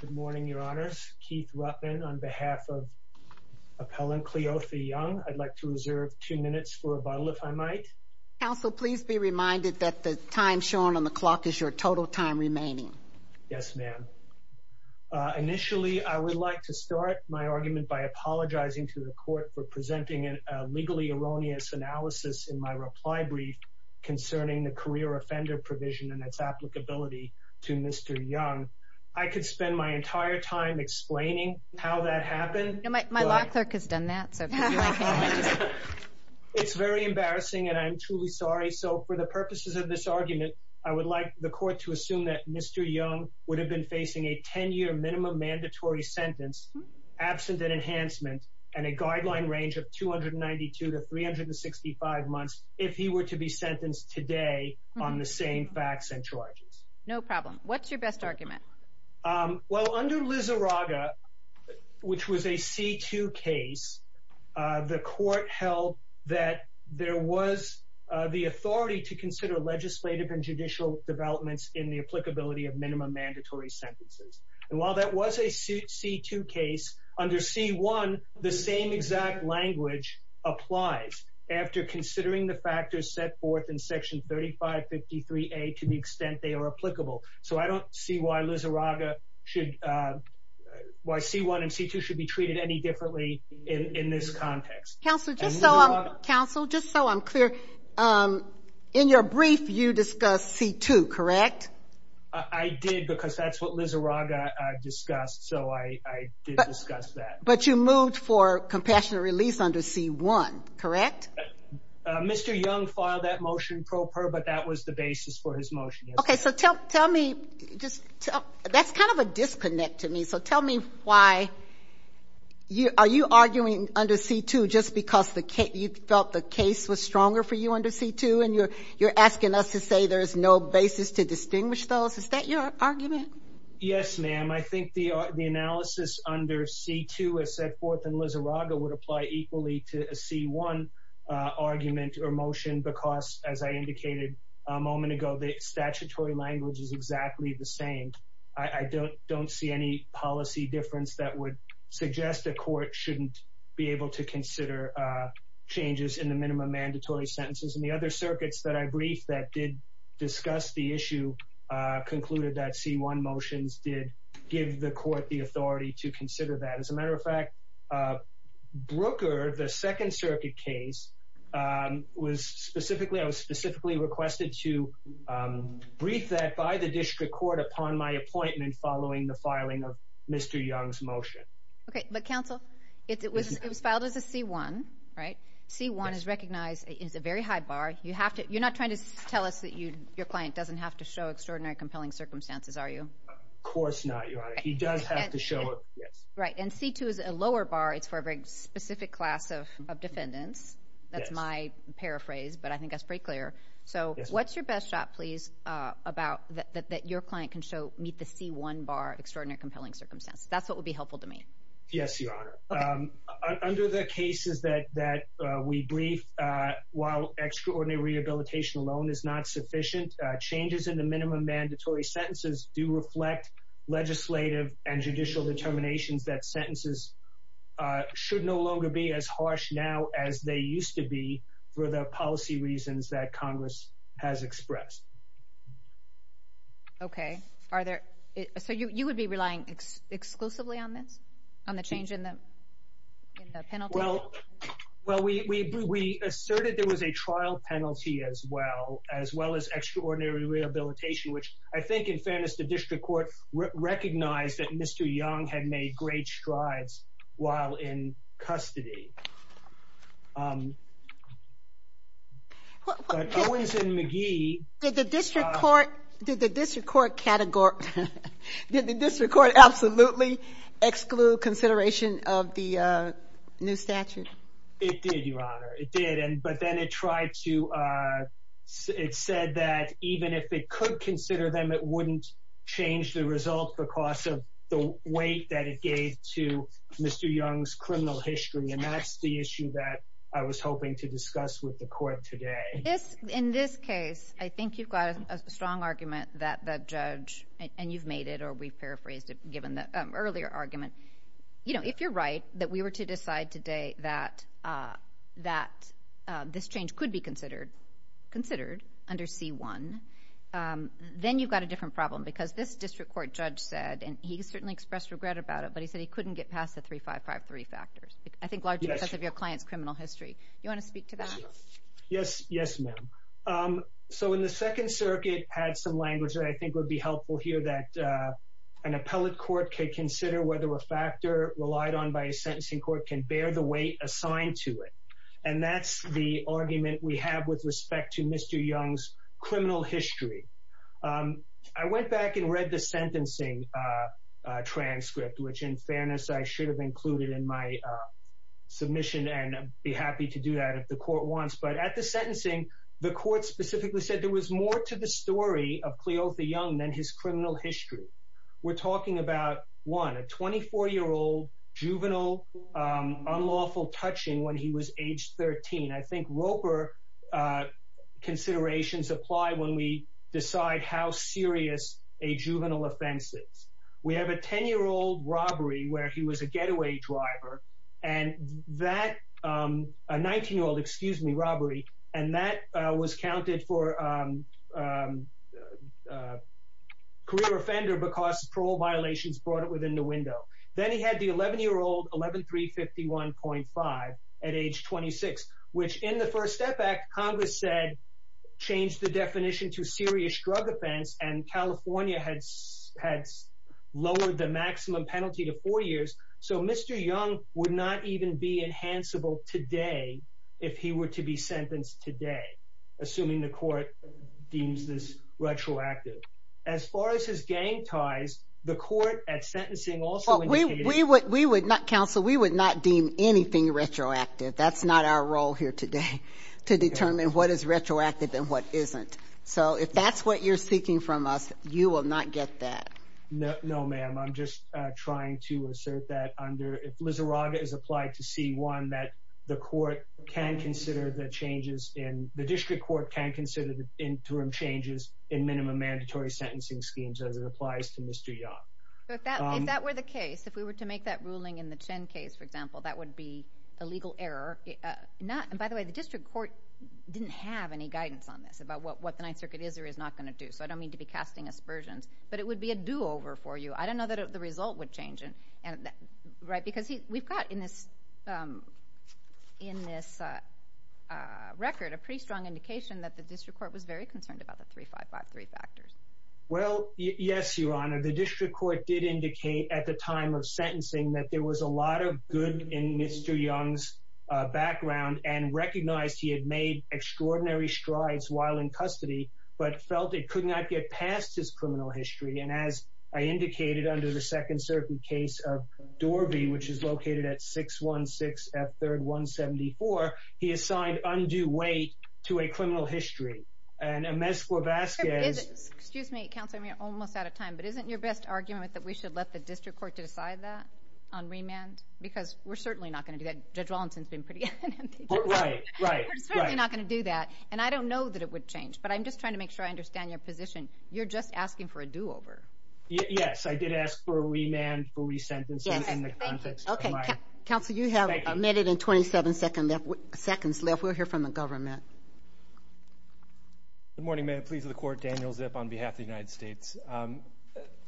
Good morning, Your Honors. Keith Ruttman on behalf of Appellant Cleotha Young. I'd like to reserve two minutes for rebuttal if I might. Counsel, please be reminded that the time shown on the clock is your total time remaining. Yes, ma'am. Initially, I would like to start my argument by apologizing to the court for presenting a legally erroneous analysis in my reply brief concerning the career offender provision and its applicability to Mr. Young. I could spend my entire time explaining how that happened. My law clerk has done that. It's very embarrassing, and I'm truly sorry. So for the purposes of this argument, I would like the court to assume that Mr. Young would have been facing a 10-year minimum mandatory sentence absent an enhancement and a guideline range of 292 to 365 months if he were to be sentenced today on the same facts and charges. No problem. What's your best argument? Well, under Liz Araga, which was a C2 case, the court held that there was the authority to consider legislative and judicial developments in the applicability of minimum mandatory sentences. And while that was a C2 case, under C1, the same exact language applies after considering the factors set forth in Section 3553A to the extent they are applicable. So I don't see why C1 and C2 should be treated any differently in this context. Counsel, just so I'm clear, in your brief, you discussed C2, correct? I did, because that's what Liz Araga discussed, so I did discuss that. But you moved for compassionate release under C1, correct? Mr. Young filed that motion pro per, but that was the basis for his motion. Okay, so tell me, that's kind of a disconnect to me, so tell me why, are you arguing under C2 just because you felt the case was stronger for you under C2 and you're asking us to say there's no basis to distinguish those? Is that your argument? Yes, ma'am. I think the analysis under C2 as set forth in Liz Araga would apply equally to a C1 argument or motion because, as I indicated a moment ago, the statutory language is exactly the same. I don't see any policy difference that would suggest a court shouldn't be able to consider changes in the minimum mandatory sentences. And the other circuits that I briefed that did discuss the issue concluded that C1 motions did give the court the authority to consider that. As a matter of fact, Brooker, the second circuit case, I was specifically requested to brief that by the district court upon my appointment following the filing of Mr. Young's motion. Okay, but counsel, it was filed as a C1, right? C1 is recognized as a very high bar. You're not trying to tell us that your client doesn't have to show extraordinary compelling circumstances, are you? Of course not, Your Honor. He does have to show it. Right, and C2 is a lower bar. It's for a very specific class of defendants. That's my paraphrase, but I think that's pretty clear. So what's your best shot, please, about that your client can show meet the C1 bar of extraordinary compelling circumstances? That's what would be helpful to me. Yes, Your Honor. Under the cases that we briefed, while extraordinary rehabilitation alone is not sufficient, changes in the minimum mandatory sentences do reflect legislative and judicial determinations that sentences should no longer be as harsh now as they used to be for the policy reasons that Congress has expressed. Okay. So you would be relying exclusively on this, on the change in the penalty? Well, we asserted there was a trial penalty as well, as well as extraordinary rehabilitation, which I think, in fairness, the district court recognized that Mr. Young had made great strides while in custody. Did the district court absolutely exclude consideration of the new statute? It did, Your Honor. It did, but then it said that even if it could consider them, it wouldn't change the result because of the weight that it gave to Mr. Young's criminal history, and that's the issue that I was hoping to discuss with the court today. In this case, I think you've got a strong argument that the judge, and you've made it, or we've paraphrased it given the earlier argument, you know, if you're right that we were to decide today that this change could be considered under C1, then you've got a different problem because this district court judge said, and he certainly expressed regret about it, but he said he couldn't get past the 3553 factors, I think largely because of your client's criminal history. You want to speak to that? Yes, yes, ma'am. So in the Second Circuit had some language that I think would be helpful here that an appellate court could consider whether a factor relied on by a sentencing court can bear the weight assigned to it, and that's the argument we have with respect to Mr. Young's criminal history. I went back and read the sentencing transcript, which in fairness I should have included in my submission, and I'd be happy to do that if the court wants, but at the sentencing, the court specifically said there was more to the story of Cleotha Young than his criminal history. We're talking about, one, a 24-year-old juvenile unlawful touching when he was age 13. I think Roper considerations apply when we decide how serious a juvenile offense is. We have a 10-year-old robbery where he was a getaway driver, a 19-year-old robbery, and that was counted for career offender because parole violations brought it within the window. Then he had the 11-year-old, 11351.5, at age 26, which in the First Step Act, Congress said changed the definition to serious drug offense, and California had lowered the maximum penalty to four years, so Mr. Young would not even be enhanceable today if he were to be sentenced today, assuming the court deems this retroactive. As far as his gang ties, the court at sentencing also indicated... We would not, counsel, we would not deem anything retroactive. That's not our role here today, to determine what is retroactive and what isn't. So if that's what you're seeking from us, you will not get that. No, ma'am. I'm just trying to assert that under, if Lizarraga is applied to C-1, that the court can consider the changes in, the district court can consider the interim changes in minimum mandatory sentencing schemes as it applies to Mr. Young. If that were the case, if we were to make that ruling in the Chen case, for example, that would be a legal error. By the way, the district court didn't have any guidance on this, about what the Ninth Circuit is or is not going to do, so I don't mean to be casting aspersions, but it would be a do-over for you. I don't know that the result would change. Right? Because we've got in this record a pretty strong indication that the district court was very concerned about the 3553 factors. Well, yes, Your Honor. The district court did indicate at the time of sentencing that there was a lot of good in Mr. Young's background and recognized he had made extraordinary strides while in custody, but felt it could not get past his criminal history. And as I indicated under the Second Circuit case of Dorby, which is located at 616 F. 3rd 174, he assigned undue weight to a criminal history. Excuse me, Counselor, we're almost out of time, but isn't your best argument that we should let the district court decide that on remand? Because we're certainly not going to do that. Judge Wallinson's been pretty adamant. We're certainly not going to do that, and I don't know that it would change, but I'm just trying to make sure I understand your position. You're just asking for a do-over. Yes, I did ask for a remand for resentencing in the context of my... Counselor, you have a minute and 27 seconds left. We'll hear from the government. Good morning. May it please the Court, Daniel Zip on behalf of the United States.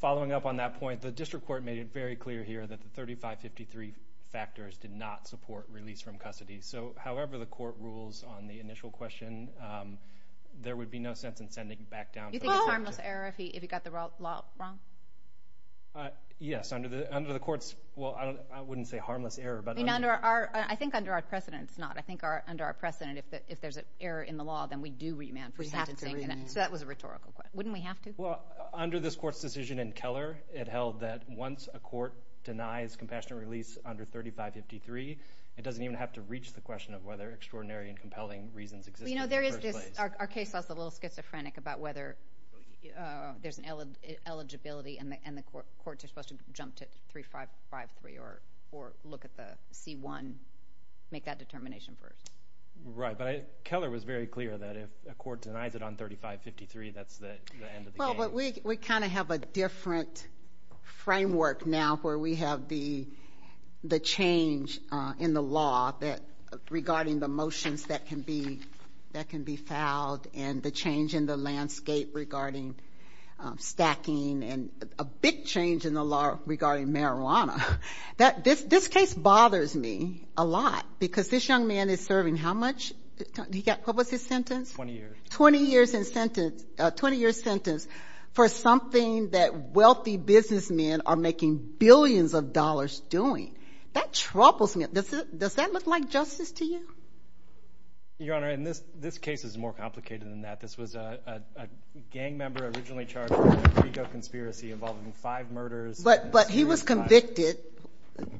Following up on that point, the district court made it very clear here that the 3553 factors did not support release from custody. So, however the court rules on the initial question, there would be no sense in sending him back down to the Second Circuit. Yes, under the court's... Well, I wouldn't say harmless error, but... I think under our precedent, it's not. I think under our precedent, if there's an error in the law, then we do remand for sentencing. So that was a rhetorical question. Wouldn't we have to? Well, under this court's decision in Keller, it held that once a court denies compassionate release under 3553, it doesn't even have to reach the question of whether extraordinary and compelling reasons exist in the first place. You know, there is this... Our case was a little schizophrenic about whether there's an eligibility and the court is supposed to jump to 3553 or look at the C-1, make that determination first. Right, but Keller was very clear that if a court denies it on 3553, that's the end of the game. Well, but we kind of have a different framework now where we have the change in the law regarding the motions that can be filed and the change in the landscape regarding stacking and a big change in the law regarding marijuana. This case bothers me a lot because this young man is serving how much? What was his sentence? 20 years. 20 years sentence for something that wealthy businessmen are making billions of dollars doing. That troubles me. Does that look like justice to you? Your Honor, and this case is more complicated than that. This was a gang member originally charged with an illegal conspiracy involving five murders. But he was convicted.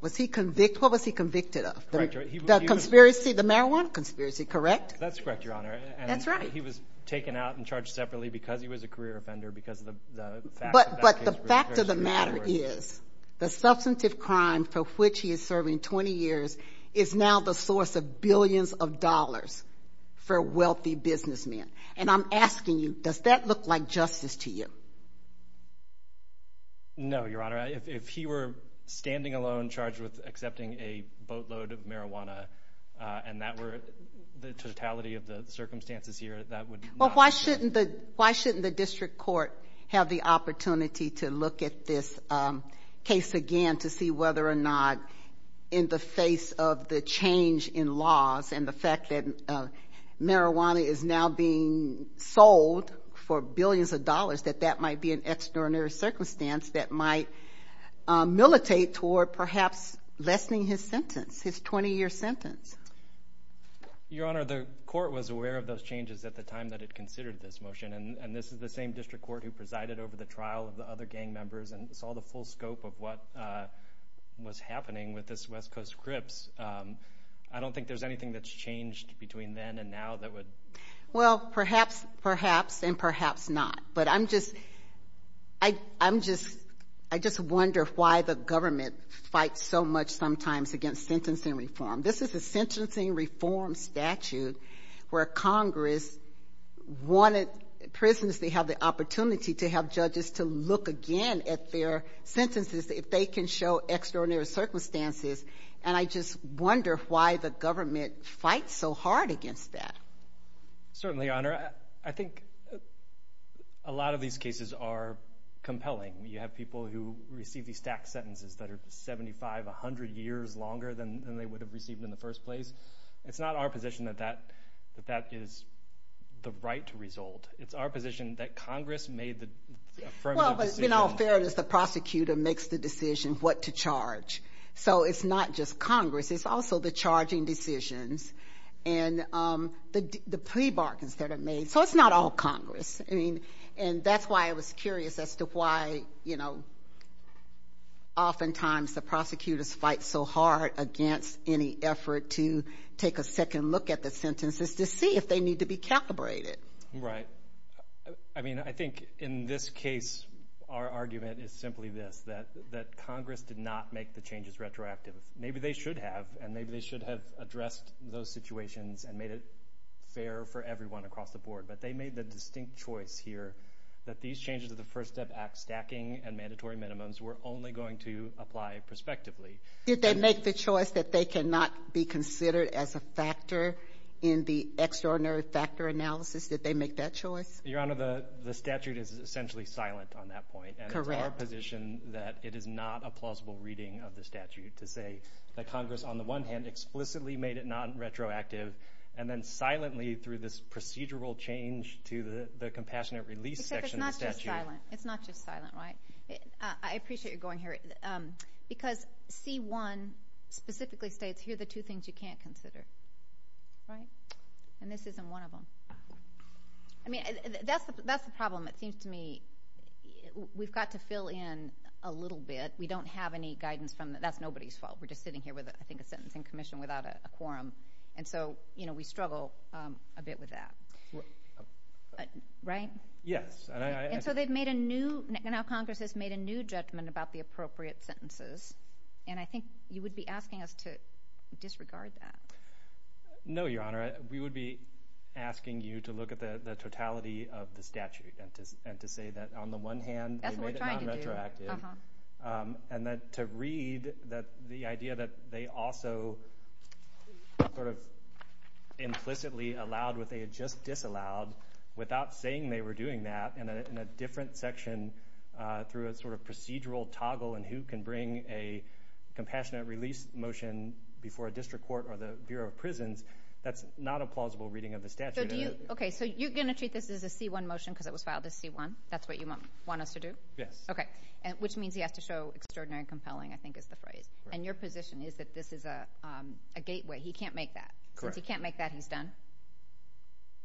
Was he convicted? What was he convicted of? The conspiracy, the marijuana conspiracy, correct? That's correct, Your Honor. That's right. He was taken out and charged separately because he was a career offender because of the fact... But the fact of the matter is the substantive crime for which he is serving 20 years is now the source of billions of dollars for wealthy businessmen. And I'm asking you, does that look like justice to you? No, Your Honor. If he were standing alone charged with accepting a boatload of marijuana and that were the totality of the circumstances here, that would not... Well, why shouldn't the district court have the opportunity to look at this case again to see whether or not in the face of the change in laws and the fact that marijuana is now being sold for billions of dollars, that that might be an external circumstance that might militate toward perhaps lessening his sentence, his 20-year sentence? Your Honor, the court was aware of those changes at the time that it considered this motion. And this is the same district court who presided over the trial of the other gang members and saw the full scope of what was happening with this West Coast Crips. I don't think there's anything that's changed between then and now that would... Well, perhaps, perhaps, and perhaps not. But I'm just, I'm just, I just wonder why the government fights so much sometimes against sentencing reform. This is a sentencing reform statute where Congress wanted prisons to have the opportunity to have judges to look again at their sentences if they can show extraordinary circumstances. And I just wonder why the government fights so hard against that. Certainly, Your Honor. I think a lot of these cases are compelling. You have people who receive these tax sentences that are 75, 100 years longer than they would have received in the first place. It's not our position that that is the right result. It's our position that Congress made the affirmative decision. Well, but in all fairness, the prosecutor makes the decision what to charge. So it's not just Congress. It's also the charging decisions and the plea bargains that are made. So it's not all Congress. And that's why I was curious as to why, you know, oftentimes the prosecutors fight so hard against any effort to take a second look at the sentences to see if they need to be calibrated. Right. I mean, I think in this case our argument is simply this, that Congress did not make the changes retroactive. Maybe they should have, and maybe they should have addressed those situations and made it fair for everyone across the board. But they made the distinct choice here that these changes to the First Step Act stacking and mandatory minimums were only going to apply prospectively. Did they make the choice that they cannot be considered as a factor in the extraordinary factor analysis? Did they make that choice? Your Honor, the statute is essentially silent on that point. Correct. And it's our position that it is not a plausible reading of the statute to say that Congress, on the one hand, explicitly made it non-retroactive, and then silently through this procedural change to the compassionate release section of the statute. Except it's not just silent. It's not just silent, right? I appreciate your going here because C-1 specifically states here are the two things you can't consider, right? And this isn't one of them. I mean, that's the problem, it seems to me. We've got to fill in a little bit. We don't have any guidance from the – that's nobody's fault. We're just sitting here with, I think, a sentencing commission without a quorum. And so, you know, we struggle a bit with that. Right? Yes. And so they've made a new – now Congress has made a new judgment about the appropriate sentences. And I think you would be asking us to disregard that. No, Your Honor. We would be asking you to look at the totality of the statute and to say that, on the one hand, they made it non-retroactive. And that to read that the idea that they also sort of implicitly allowed what they had just disallowed without saying they were doing that in a different section through a sort of procedural toggle and who can bring a compassionate release motion before a district court or the Bureau of Prisons, that's not a plausible reading of the statute. Okay. So you're going to treat this as a C-1 motion because it was filed as C-1? That's what you want us to do? Yes. Okay. Which means he has to show extraordinary and compelling, I think is the phrase. And your position is that this is a gateway. He can't make that. Correct. Since he can't make that, he's done?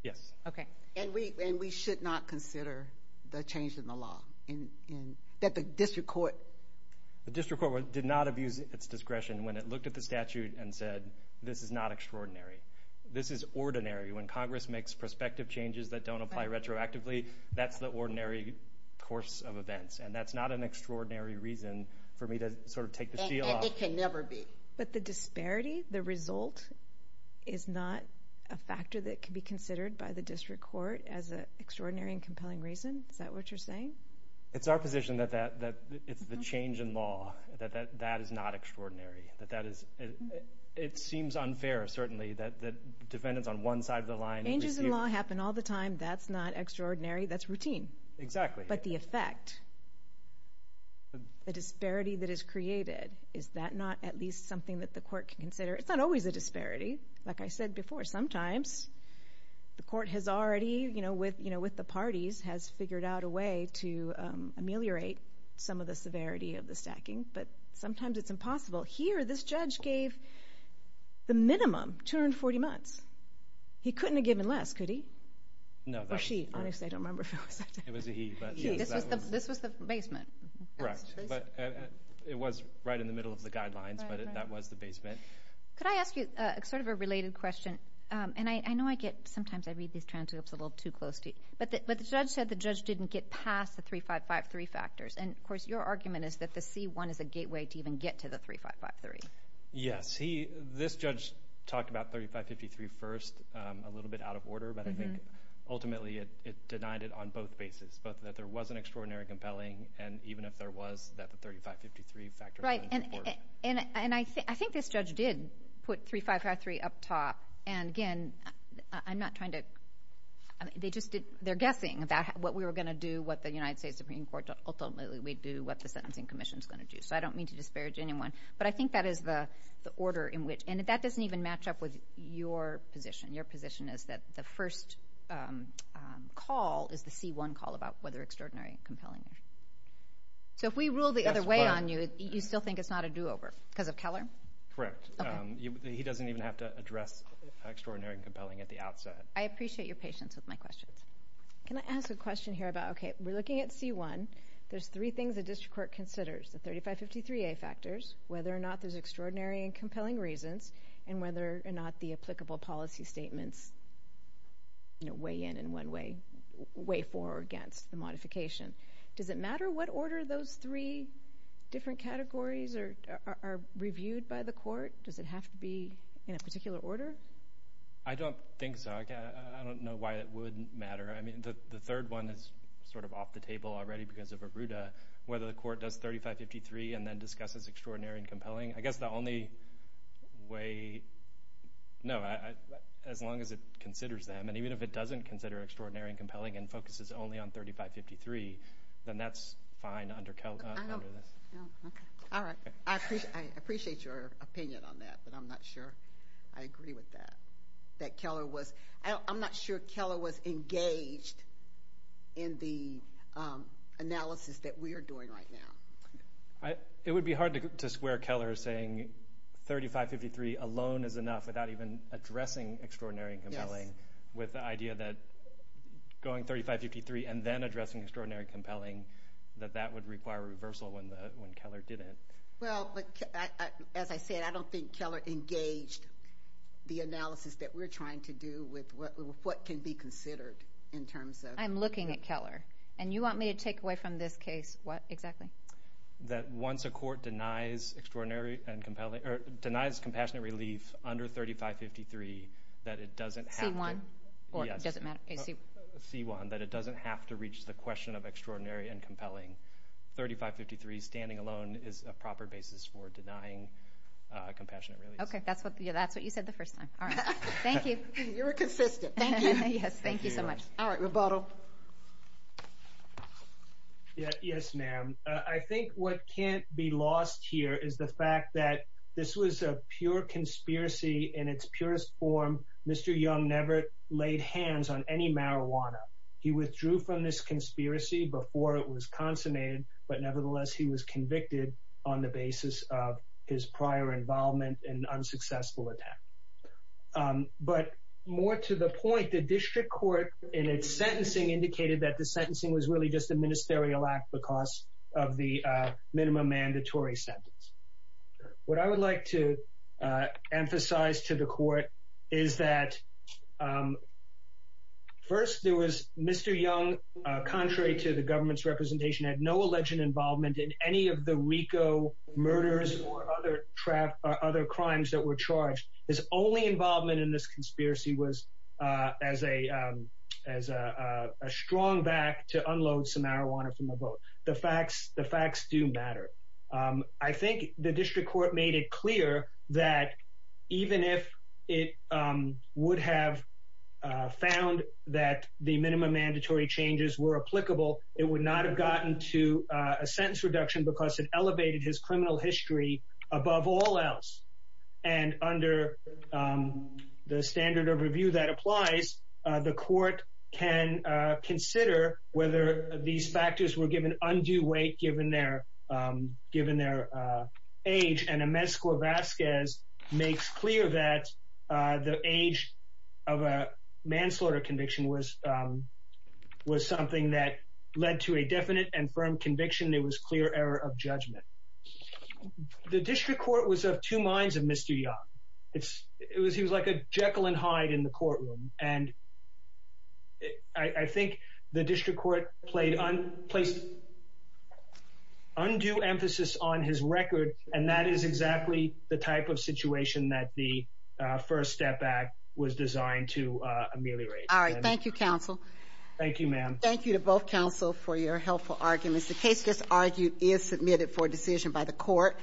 Yes. Okay. And we should not consider the change in the law. That the district court... The district court did not abuse its discretion when it looked at the statute and said, this is not extraordinary. This is ordinary. When Congress makes prospective changes that don't apply retroactively, that's the ordinary course of events. And that's not an extraordinary reason for me to sort of take the C off. And it can never be. But the disparity, the result, is not a factor that can be considered by the district court as an extraordinary and compelling reason? Is that what you're saying? It's our position that it's the change in law that is not extraordinary. It seems unfair, certainly, that defendants on one side of the line... Changes in law happen all the time. That's not extraordinary. That's routine. Exactly. But the effect, the disparity that is created, is that not at least something that the court can consider? It's not always a disparity. Like I said before, sometimes the court has already, you know, with the parties, has figured out a way to ameliorate some of the severity of the stacking. But sometimes it's impossible. Here, this judge gave the minimum, 240 months. He couldn't have given less, could he? No. Or she. Honestly, I don't remember if it was that. It was a he. This was the basement. Correct. It was right in the middle of the guidelines, but that was the basement. Could I ask you sort of a related question? And I know I get, sometimes I read these transcripts a little too close to you. But the judge said the judge didn't get past the 3553 factors. And, of course, your argument is that the C-1 is a gateway to even get to the 3553. Yes. This judge talked about 3553 first, a little bit out of order. But I think, ultimately, it denied it on both bases, both that there was an extraordinary compelling and even if there was, that the 3553 factor was in support. Right. And I think this judge did put 3553 up top. And, again, I'm not trying to – they just did – they're guessing about what we were going to do, what the United States Supreme Court ultimately would do, what the Sentencing Commission is going to do. So I don't mean to disparage anyone. But I think that is the order in which – and that doesn't even match up with your position. Your position is that the first call is the C-1 call about whether extraordinary and compelling. So if we rule the other way on you, you still think it's not a do-over because of Keller? Correct. Okay. He doesn't even have to address extraordinary and compelling at the outset. I appreciate your patience with my questions. Can I ask a question here about, okay, we're looking at C-1. There's three things the district court considers, the 3553A factors, whether or not there's extraordinary and compelling reasons, and whether or not the applicable policy statements weigh in in one way, weigh for or against the modification. Does it matter what order those three different categories are reviewed by the court? Does it have to be in a particular order? I don't think so. I don't know why it wouldn't matter. I mean, the third one is sort of off the table already because of Arruda, whether the court does 3553 and then discusses extraordinary and compelling. I guess the only way, no, as long as it considers them, and even if it doesn't consider extraordinary and compelling and focuses only on 3553, then that's fine under this. Okay. All right. I appreciate your opinion on that, but I'm not sure I agree with that. I'm not sure Keller was engaged in the analysis that we are doing right now. It would be hard to swear Keller saying 3553 alone is enough without even addressing extraordinary and compelling, with the idea that going 3553 and then addressing extraordinary and compelling, that that would require reversal when Keller did it. Well, as I said, I don't think Keller engaged the analysis that we're trying to do with what can be considered in terms of. I'm looking at Keller, and you want me to take away from this case what exactly? That once a court denies compassionate relief under 3553 that it doesn't have to. C1? Yes. Or does it matter? C1, that it doesn't have to reach the question of extraordinary and compelling. 3553 standing alone is a proper basis for denying compassionate relief. Okay. That's what you said the first time. All right. Thank you. You were consistent. Thank you. Yes. Thank you so much. All right. Mr. Rapato? Yes, ma'am. I think what can't be lost here is the fact that this was a pure conspiracy in its purest form. Mr. Young never laid hands on any marijuana. He withdrew from this conspiracy before it was consummated, but nevertheless he was convicted on the basis of his prior involvement in an unsuccessful attack. But more to the point, the district court, in its sentencing, indicated that the sentencing was really just a ministerial act because of the minimum mandatory sentence. What I would like to emphasize to the court is that first there was Mr. Young, contrary to the government's representation, had no alleged involvement in any of the RICO murders or other crimes that were charged. His only involvement in this conspiracy was as a strong back to unload some marijuana from a boat. The facts do matter. I think the district court made it clear that even if it would have found that the minimum mandatory changes were applicable, it would not have gotten to a sentence reduction because it elevated his criminal history above all else. And under the standard of review that applies, the court can consider whether these factors were given undue weight given their age. The age of a manslaughter conviction was something that led to a definite and firm conviction. It was clear error of judgment. The district court was of two minds of Mr. Young. He was like a Jekyll and Hyde in the courtroom. I think the district court placed undue emphasis on his record, and that is exactly the type of situation that the First Step Act was designed to ameliorate. All right. Thank you, counsel. Thank you, ma'am. Thank you to both counsel for your helpful arguments. The case just argued is submitted for decision by the court.